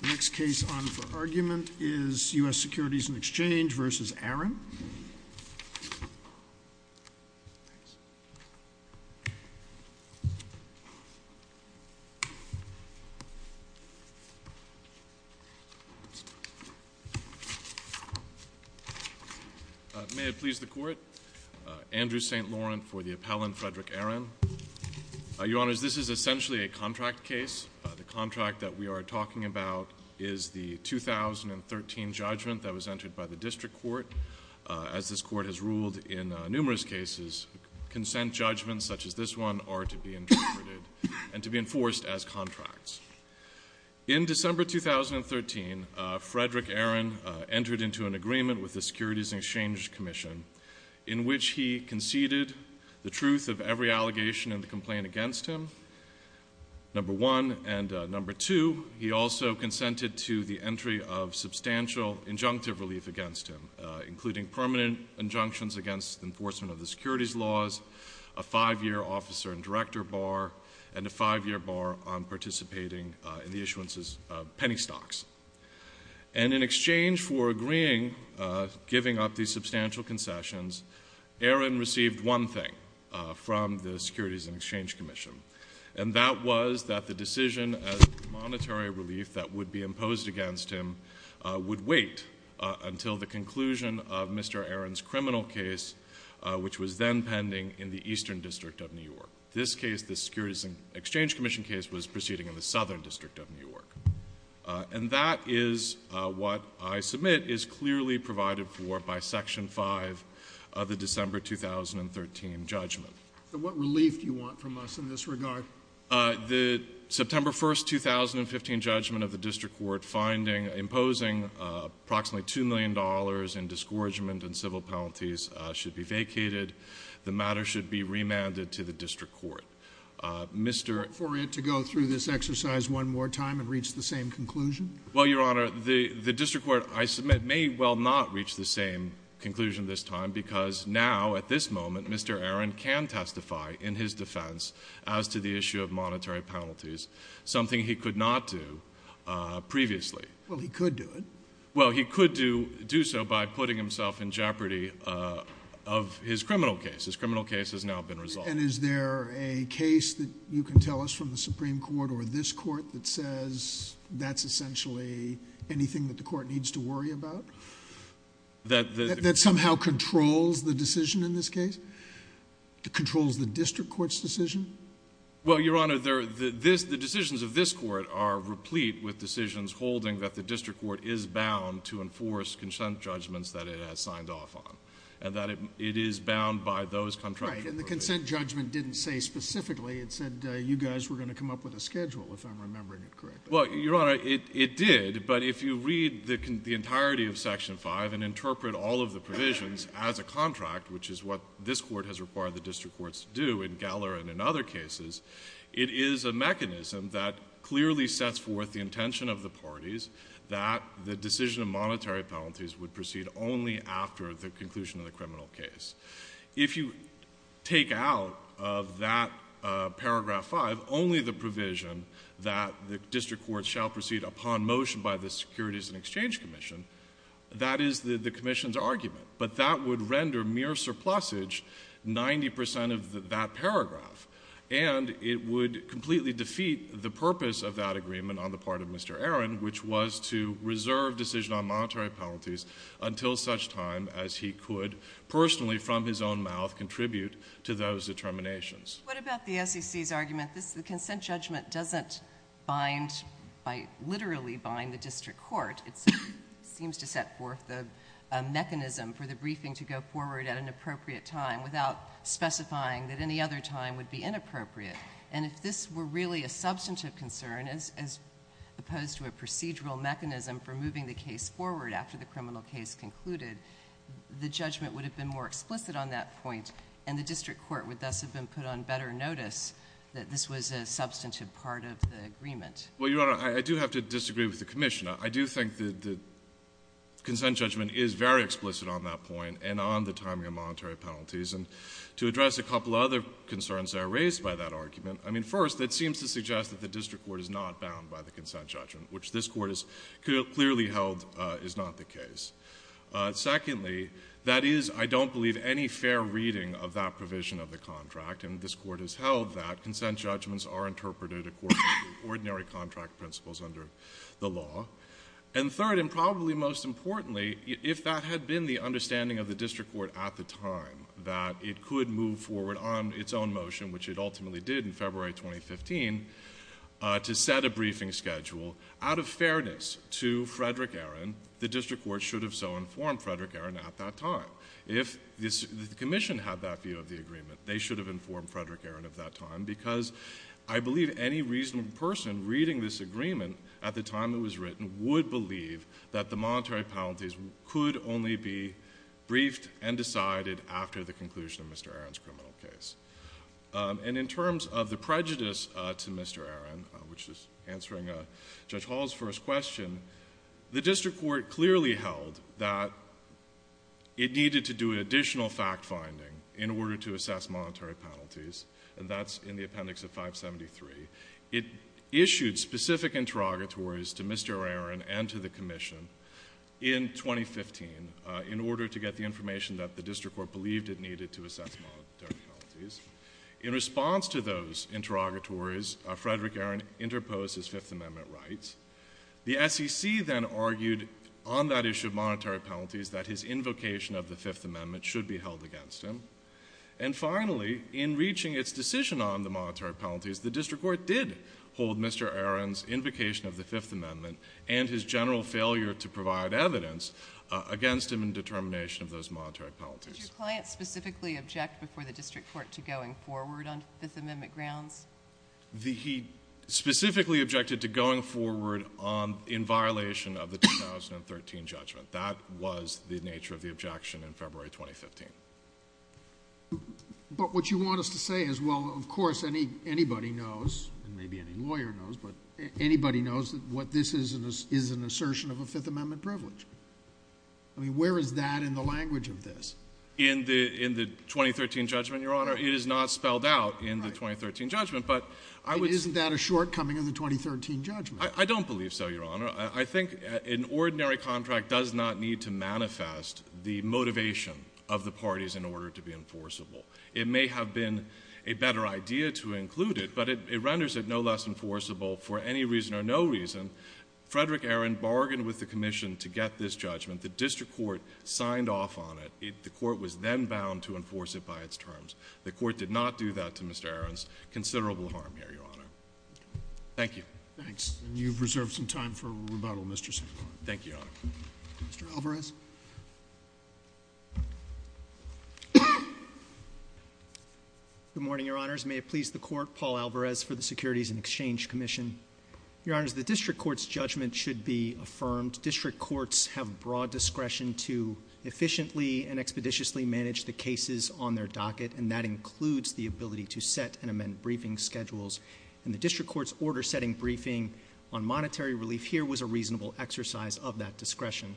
The next case on for argument is U.S. Securities and Exchange v. Aron. May it please the Court. Andrew St. Laurent for the appellant, Frederick Aron. Your Honors, this is essentially a contract case. The contract that we are talking about is the 2013 judgment that was entered by the district court. As this court has ruled in numerous cases, consent judgments such as this one are to be interpreted and to be enforced as contracts. In December 2013, Frederick Aron entered into an agreement with the Securities and Exchange Commission in which he conceded the truth of every allegation and the complaint against him, number one. And number two, he also consented to the entry of substantial injunctive relief against him, including permanent injunctions against enforcement of the securities laws, a five-year officer and director bar, and a five-year bar on participating in the issuances of penny stocks. And in exchange for agreeing, giving up the substantial concessions, Aron received one thing from the Securities and Exchange Commission, and that was that the decision of monetary relief that would be imposed against him would wait until the conclusion of Mr. Aron's criminal case, which was then pending in the Eastern District of New York. This case, the Securities and Exchange Commission case, was proceeding in the Southern District of New York. And that is what I submit is clearly provided for by Section 5 of the December 2013 judgment. So what relief do you want from us in this regard? The September 1, 2015 judgment of the district court finding imposing approximately $2 million in discouragement and civil penalties should be vacated. The matter should be remanded to the district court. For it to go through this exercise one more time and reach the same conclusion? Well, Your Honor, the district court I submit may well not reach the same conclusion this time because now, at this moment, Mr. Aron can testify in his defense as to the issue of monetary penalties, something he could not do previously. Well, he could do it. Well, he could do so by putting himself in jeopardy of his criminal case. His criminal case has now been resolved. And is there a case that you can tell us from the Supreme Court or this court that says that's essentially anything that the court needs to worry about? That somehow controls the decision in this case? Controls the district court's decision? Well, Your Honor, the decisions of this court are replete with decisions holding that the district court is bound to enforce consent judgments that it has signed off on and that it is bound by those contractual provisions. Right, and the consent judgment didn't say specifically. It said you guys were going to come up with a schedule, if I'm remembering it correctly. Well, Your Honor, it did. But if you read the entirety of Section 5 and interpret all of the provisions as a contract, which is what this court has required the district courts to do in Geller and in other cases, it is a mechanism that clearly sets forth the intention of the parties that the decision of monetary penalties would proceed only after the conclusion of the criminal case. If you take out of that paragraph 5 only the provision that the district courts shall proceed upon motion by the Securities and Exchange Commission, that is the commission's argument. But that would render mere surplusage 90 percent of that paragraph. And it would completely defeat the purpose of that agreement on the part of Mr. Aron, which was to reserve decision on monetary penalties until such time as he could personally from his own mouth contribute to those determinations. What about the SEC's argument? The consent judgment doesn't literally bind the district court. It seems to set forth the mechanism for the briefing to go forward at an appropriate time without specifying that any other time would be inappropriate. And if this were really a substantive concern as opposed to a procedural mechanism for moving the case forward after the criminal case concluded, the judgment would have been more explicit on that point and the district court would thus have been put on better notice that this was a substantive part of the agreement. Well, Your Honor, I do have to disagree with the commission. I do think that the consent judgment is very explicit on that point and on the timing of monetary penalties. And to address a couple of other concerns that are raised by that argument, I mean, first, it seems to suggest that the district court is not bound by the consent judgment, which this court has clearly held is not the case. Secondly, that is, I don't believe, any fair reading of that provision of the contract, and this court has held that consent judgments are interpreted according to ordinary contract principles under the law. And third, and probably most importantly, if that had been the understanding of the district court at the time, that it could move forward on its own motion, which it ultimately did in February 2015, to set a briefing schedule, out of fairness to Frederick Aaron, the district court should have so informed Frederick Aaron at that time. If the commission had that view of the agreement, they should have informed Frederick Aaron at that time because I believe any reasonable person reading this agreement at the time it was written would believe that the monetary penalties could only be briefed and decided after the conclusion of Mr. Aaron's criminal case. And in terms of the prejudice to Mr. Aaron, which is answering Judge Hall's first question, the district court clearly held that it needed to do additional fact-finding in order to assess monetary penalties, and that's in the appendix of 573. It issued specific interrogatories to Mr. Aaron and to the commission in 2015 in order to get the information that the district court believed it needed to assess monetary penalties. In response to those interrogatories, Frederick Aaron interposed his Fifth Amendment rights. The SEC then argued on that issue of monetary penalties that his invocation of the Fifth Amendment should be held against him. And finally, in reaching its decision on the monetary penalties, the district court did hold Mr. Aaron's invocation of the Fifth Amendment and his general failure to provide evidence against him in determination of those monetary penalties. Did your client specifically object before the district court to going forward on Fifth Amendment grounds? He specifically objected to going forward in violation of the 2013 judgment. That was the nature of the objection in February 2015. But what you want us to say is, well, of course, anybody knows, and maybe any lawyer knows, but anybody knows that this is an assertion of a Fifth Amendment privilege. I mean, where is that in the language of this? In the 2013 judgment, Your Honor. It is not spelled out in the 2013 judgment. But isn't that a shortcoming of the 2013 judgment? I don't believe so, Your Honor. I think an ordinary contract does not need to manifest the motivation of the parties in order to be enforceable. It may have been a better idea to include it, but it renders it no less enforceable for any reason or no reason. Frederick Aaron bargained with the commission to get this judgment. The district court signed off on it. The court was then bound to enforce it by its terms. The court did not do that to Mr. Aaron's considerable harm here, Your Honor. Thank you. Thanks. And you've reserved some time for rebuttal, Mr. Sinclair. Thank you, Your Honor. Mr. Alvarez? Good morning, Your Honors. May it please the court, Paul Alvarez for the Securities and Exchange Commission. Your Honors, the district court's judgment should be affirmed. District courts have broad discretion to efficiently and expeditiously manage the cases on their docket, and that includes the ability to set and amend briefing schedules. And the district court's order setting briefing on monetary relief here was a reasonable exercise of that discretion.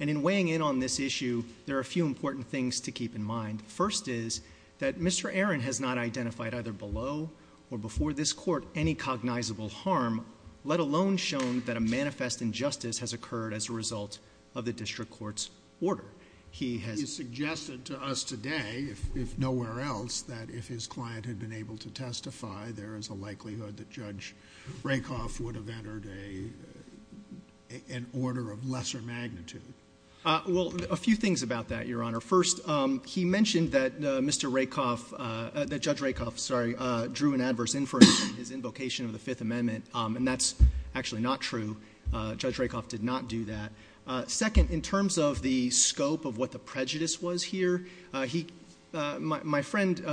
And in weighing in on this issue, there are a few important things to keep in mind. The first is that Mr. Aaron has not identified either below or before this court any cognizable harm, let alone shown that a manifest injustice has occurred as a result of the district court's order. He has suggested to us today, if nowhere else, that if his client had been able to testify, there is a likelihood that Judge Rakoff would have entered an order of lesser magnitude. Well, a few things about that, Your Honor. First, he mentioned that Judge Rakoff drew an adverse inference on his invocation of the Fifth Amendment, and that's actually not true. Judge Rakoff did not do that. Second, in terms of the scope of what the prejudice was here, my friend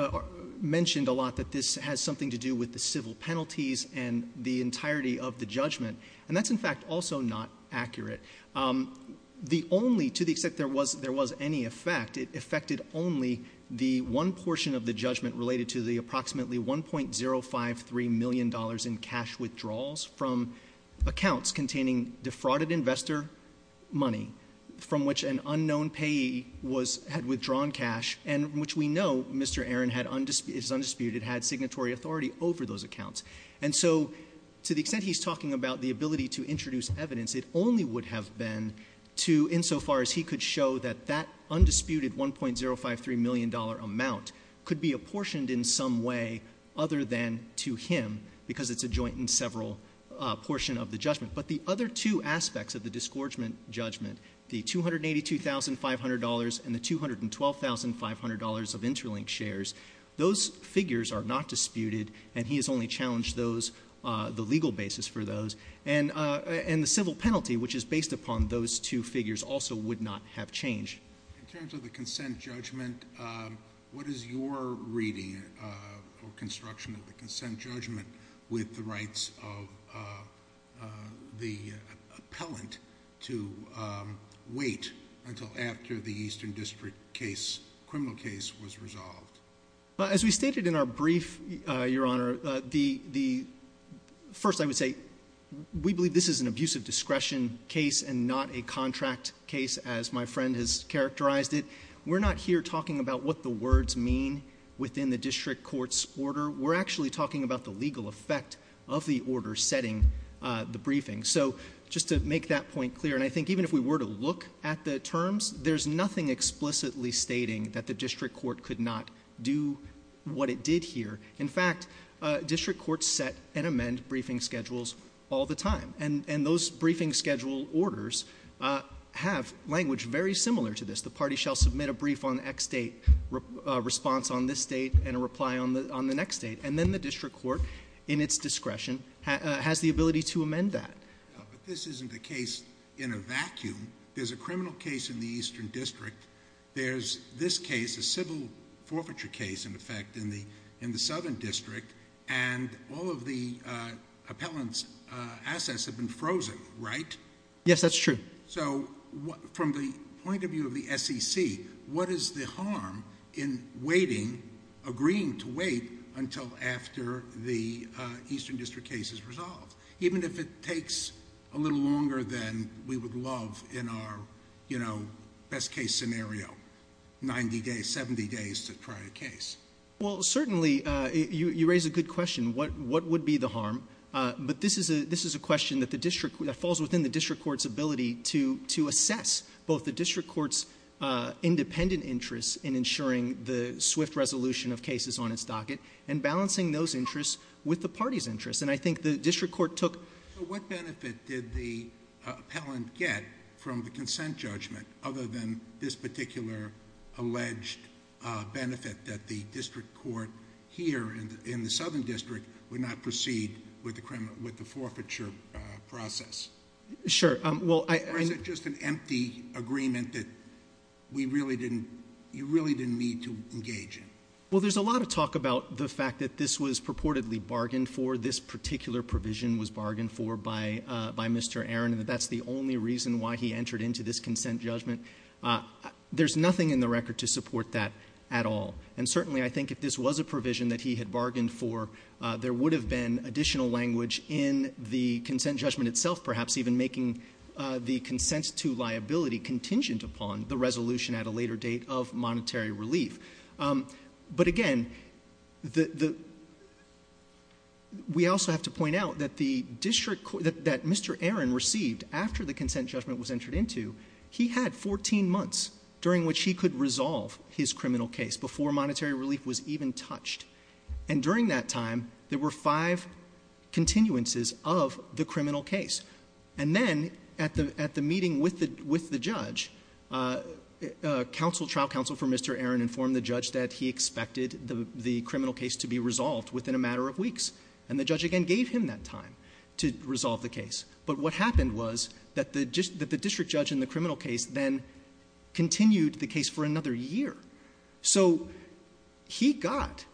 mentioned a lot that this has something to do with the civil penalties and the entirety of the judgment, and that's, in fact, also not accurate. The only, to the extent there was any effect, it affected only the one portion of the judgment related to the approximately $1.053 million in cash withdrawals from accounts containing defrauded investor money from which an unknown payee had withdrawn cash and which we know Mr. Aaron is undisputed, had signatory authority over those accounts. And so, to the extent he's talking about the ability to introduce evidence, it only would have been insofar as he could show that that undisputed $1.053 million amount could be apportioned in some way other than to him because it's a joint and several portion of the judgment. But the other two aspects of the disgorgement judgment, the $282,500 and the $212,500 of interlinked shares, those figures are not disputed and he has only challenged the legal basis for those. And the civil penalty, which is based upon those two figures, also would not have changed. In terms of the consent judgment, what is your reading or construction of the consent judgment with the rights of the appellant to wait until after the Eastern District case, criminal case, was resolved? As we stated in our brief, Your Honor, first I would say we believe this is an abusive discretion case and not a contract case as my friend has characterized it. We're not here talking about what the words mean within the district court's order. We're actually talking about the legal effect of the order setting the briefing. So just to make that point clear, and I think even if we were to look at the terms, there's nothing explicitly stating that the district court could not do what it did here. In fact, district courts set and amend briefing schedules all the time. And those briefing schedule orders have language very similar to this. The party shall submit a brief on X date, a response on this date, and a reply on the next date. And then the district court, in its discretion, has the ability to amend that. But this isn't a case in a vacuum. There's a criminal case in the Eastern District. There's this case, a civil forfeiture case, in effect, in the Southern District, and all of the appellant's assets have been frozen, right? Yes, that's true. So from the point of view of the SEC, what is the harm in waiting, agreeing to wait until after the Eastern District case is resolved, even if it takes a little longer than we would love in our best case scenario, 90 days, 70 days to try a case? Well, certainly you raise a good question, what would be the harm? But this is a question that falls within the district court's ability to assess both the district court's independent interests in ensuring the swift resolution of cases on its docket and balancing those interests with the party's interests. And I think the district court took— So what benefit did the appellant get from the consent judgment, other than this particular alleged benefit that the district court here in the Southern District would not proceed with the forfeiture process? Sure. Or is it just an empty agreement that you really didn't need to engage in? Well, there's a lot of talk about the fact that this was purportedly bargained for, this particular provision was bargained for by Mr. Aaron, and that that's the only reason why he entered into this consent judgment. There's nothing in the record to support that at all. And certainly I think if this was a provision that he had bargained for, there would have been additional language in the consent judgment itself, perhaps even making the consents to liability contingent upon the resolution at a later date of monetary relief. But, again, we also have to point out that Mr. Aaron received, after the consent judgment was entered into, he had 14 months during which he could resolve his criminal case before monetary relief was even touched. And during that time, there were five continuances of the criminal case. And then at the meeting with the judge, trial counsel for Mr. Aaron informed the judge that he expected the criminal case to be resolved within a matter of weeks. And the judge, again, gave him that time to resolve the case. But what happened was that the district judge in the criminal case then continued the case for another year. So he got,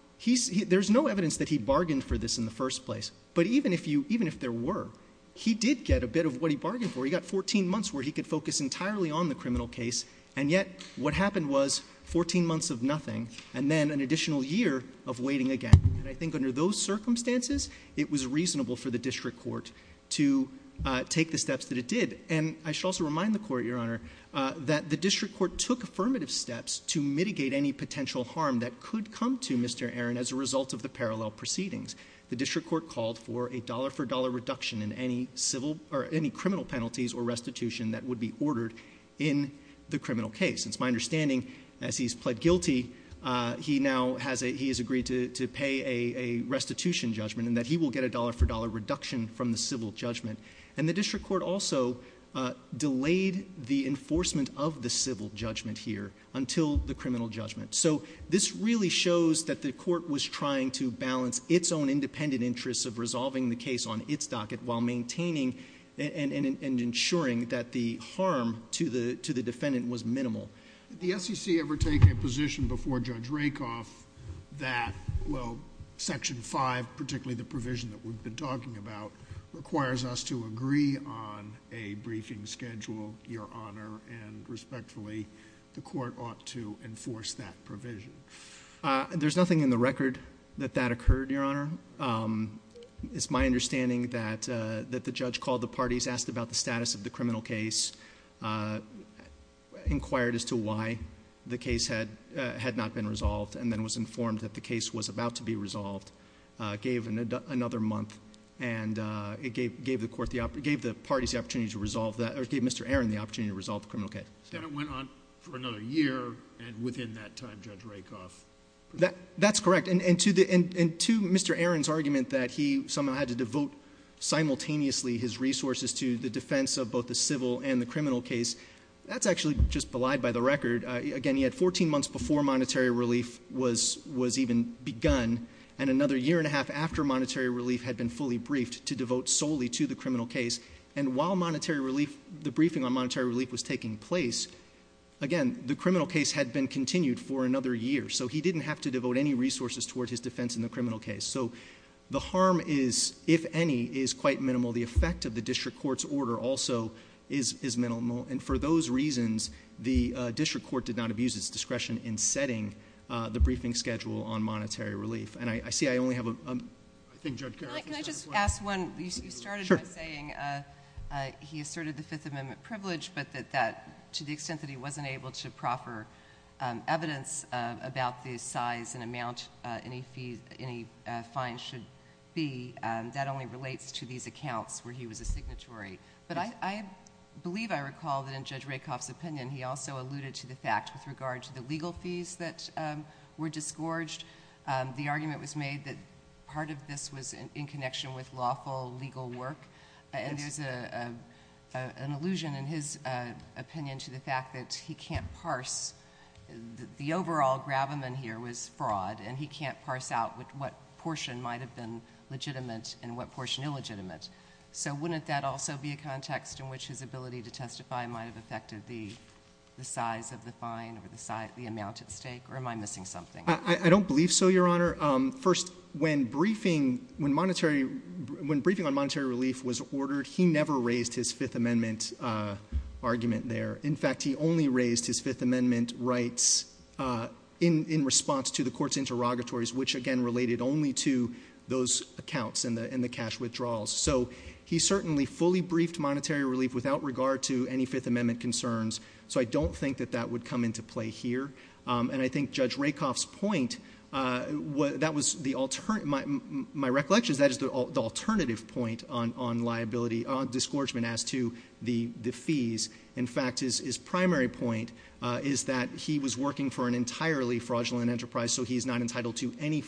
there's no evidence that he bargained for this in the first place, but even if there were, he did get a bit of what he bargained for. He got 14 months where he could focus entirely on the criminal case, and yet what happened was 14 months of nothing, and then an additional year of waiting again. And I think under those circumstances, it was reasonable for the district court to take the steps that it did. And I should also remind the court, Your Honor, that the district court took affirmative steps to mitigate any potential harm that could come to Mr. Aaron as a result of the parallel proceedings. The district court called for a dollar-for-dollar reduction in any criminal penalties or restitution that would be ordered in the criminal case. And it's my understanding, as he's pled guilty, he has agreed to pay a restitution judgment and that he will get a dollar-for-dollar reduction from the civil judgment. And the district court also delayed the enforcement of the civil judgment here until the criminal judgment. So this really shows that the court was trying to balance its own independent interests of resolving the case on its docket while maintaining and ensuring that the harm to the defendant was minimal. Did the SEC ever take a position before Judge Rakoff that, well, Section 5, particularly the provision that we've been talking about, requires us to agree on a briefing schedule, Your Honor, and respectfully, the court ought to enforce that provision? There's nothing in the record that that occurred, Your Honor. It's my understanding that the judge called the parties, asked about the status of the criminal case, inquired as to why the case had not been resolved, and then was informed that the case was about to be resolved, gave another month, and gave the parties the opportunity to resolve that, or gave Mr. Aaron the opportunity to resolve the criminal case. And it went on for another year, and within that time, Judge Rakoff? That's correct. And to Mr. Aaron's argument that he somehow had to devote simultaneously his resources to the defense of both the civil and the criminal case, that's actually just belied by the record. Again, he had 14 months before monetary relief was even begun, and another year and a half after monetary relief had been fully briefed to devote solely to the criminal case. And while the briefing on monetary relief was taking place, again, the criminal case had been continued for another year, so he didn't have to devote any resources toward his defense in the criminal case. So the harm is, if any, is quite minimal. The effect of the district court's order also is minimal, and for those reasons, the district court did not abuse its discretion in setting the briefing schedule on monetary relief. And I see I only have a— Can I just ask one? You started by saying he asserted the Fifth Amendment privilege, but that to the extent that he wasn't able to proffer evidence about the size and amount any fines should be, that only relates to these accounts where he was a signatory. But I believe I recall that in Judge Rakoff's opinion, he also alluded to the fact with regard to the legal fees that were disgorged. The argument was made that part of this was in connection with lawful legal work, and there's an allusion in his opinion to the fact that he can't parse— the overall gravamen here was fraud, and he can't parse out what portion might have been legitimate and what portion illegitimate. So wouldn't that also be a context in which his ability to testify might have affected the size of the fine or the amount at stake? Or am I missing something? I don't believe so, Your Honor. First, when briefing on monetary relief was ordered, he never raised his Fifth Amendment argument there. In fact, he only raised his Fifth Amendment rights in response to the court's interrogatories, which, again, related only to those accounts and the cash withdrawals. So he certainly fully briefed monetary relief without regard to any Fifth Amendment concerns, so I don't think that that would come into play here. And I think Judge Rakoff's point, that was the—my recollection is that is the alternative point on liability, on disgorgement as to the fees. In fact, his primary point is that he was working for an entirely fraudulent enterprise, so he is not entitled to any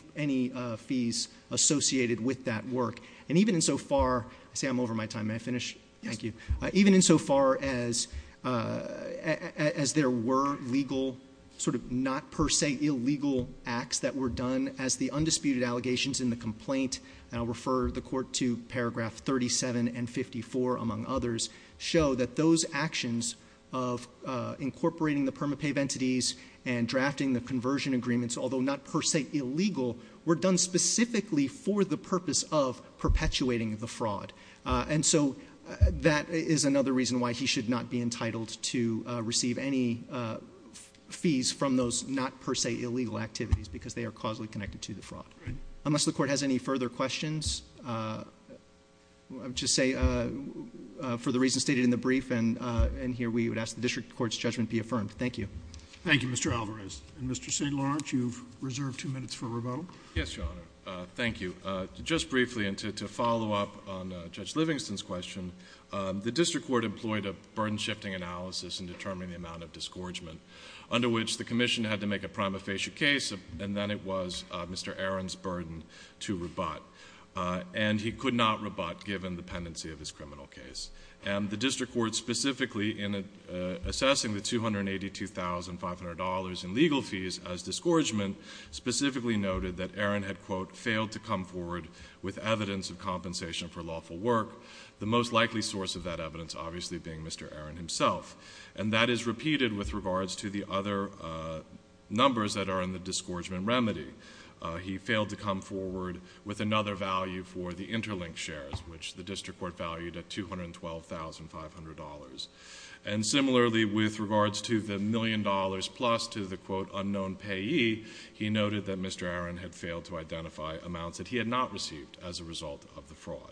fees associated with that work. And even insofar—I say I'm over my time. May I finish? Thank you. Even insofar as there were legal sort of not per se illegal acts that were done as the undisputed allegations in the complaint, and I'll refer the court to paragraph 37 and 54, among others, show that those actions of incorporating the permapave entities and drafting the conversion agreements, although not per se illegal, And so that is another reason why he should not be entitled to receive any fees from those not per se illegal activities because they are causally connected to the fraud. Unless the court has any further questions, I would just say for the reasons stated in the brief and here we would ask the district court's judgment be affirmed. Thank you. Thank you, Mr. Alvarez. And Mr. St. Lawrence, you've reserved two minutes for rebuttal. Yes, Your Honor. Thank you. Just briefly and to follow up on Judge Livingston's question, the district court employed a burden-shifting analysis in determining the amount of disgorgement under which the commission had to make a prima facie case and then it was Mr. Aron's burden to rebut. And he could not rebut given the pendency of his criminal case. And the district court specifically in assessing the $282,500 in legal fees as disgorgement specifically noted that Aron had, quote, failed to come forward with evidence of compensation for lawful work, the most likely source of that evidence obviously being Mr. Aron himself. And that is repeated with regards to the other numbers that are in the disgorgement remedy. He failed to come forward with another value for the interlinked shares, which the district court valued at $212,500. And similarly with regards to the million dollars plus to the, quote, unknown payee, he noted that Mr. Aron had failed to identify amounts that he had not received as a result of the fraud.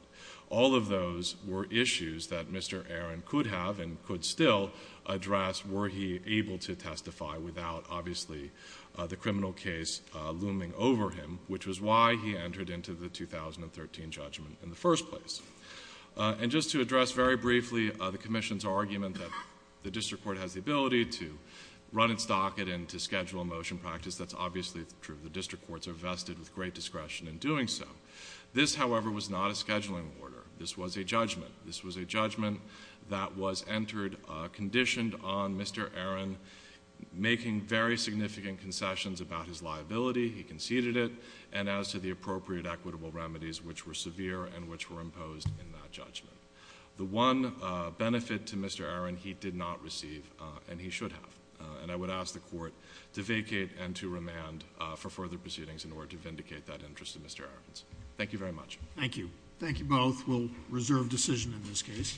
All of those were issues that Mr. Aron could have and could still address were he able to testify without obviously the criminal case looming over him, which was why he entered into the 2013 judgment in the first place. And just to address very briefly the commission's argument that the district court has the ability to run its docket and to schedule a motion practice, that's obviously true. The district courts are vested with great discretion in doing so. This, however, was not a scheduling order. This was a judgment. This was a judgment that was entered conditioned on Mr. Aron making very significant concessions about his liability. He conceded it. And as to the appropriate equitable remedies which were severe and which were imposed in that judgment. The one benefit to Mr. Aron he did not receive and he should have. And I would ask the court to vacate and to remand for further proceedings in order to vindicate that interest of Mr. Aron's. Thank you very much. Thank you. Thank you both. We'll reserve decision in this case.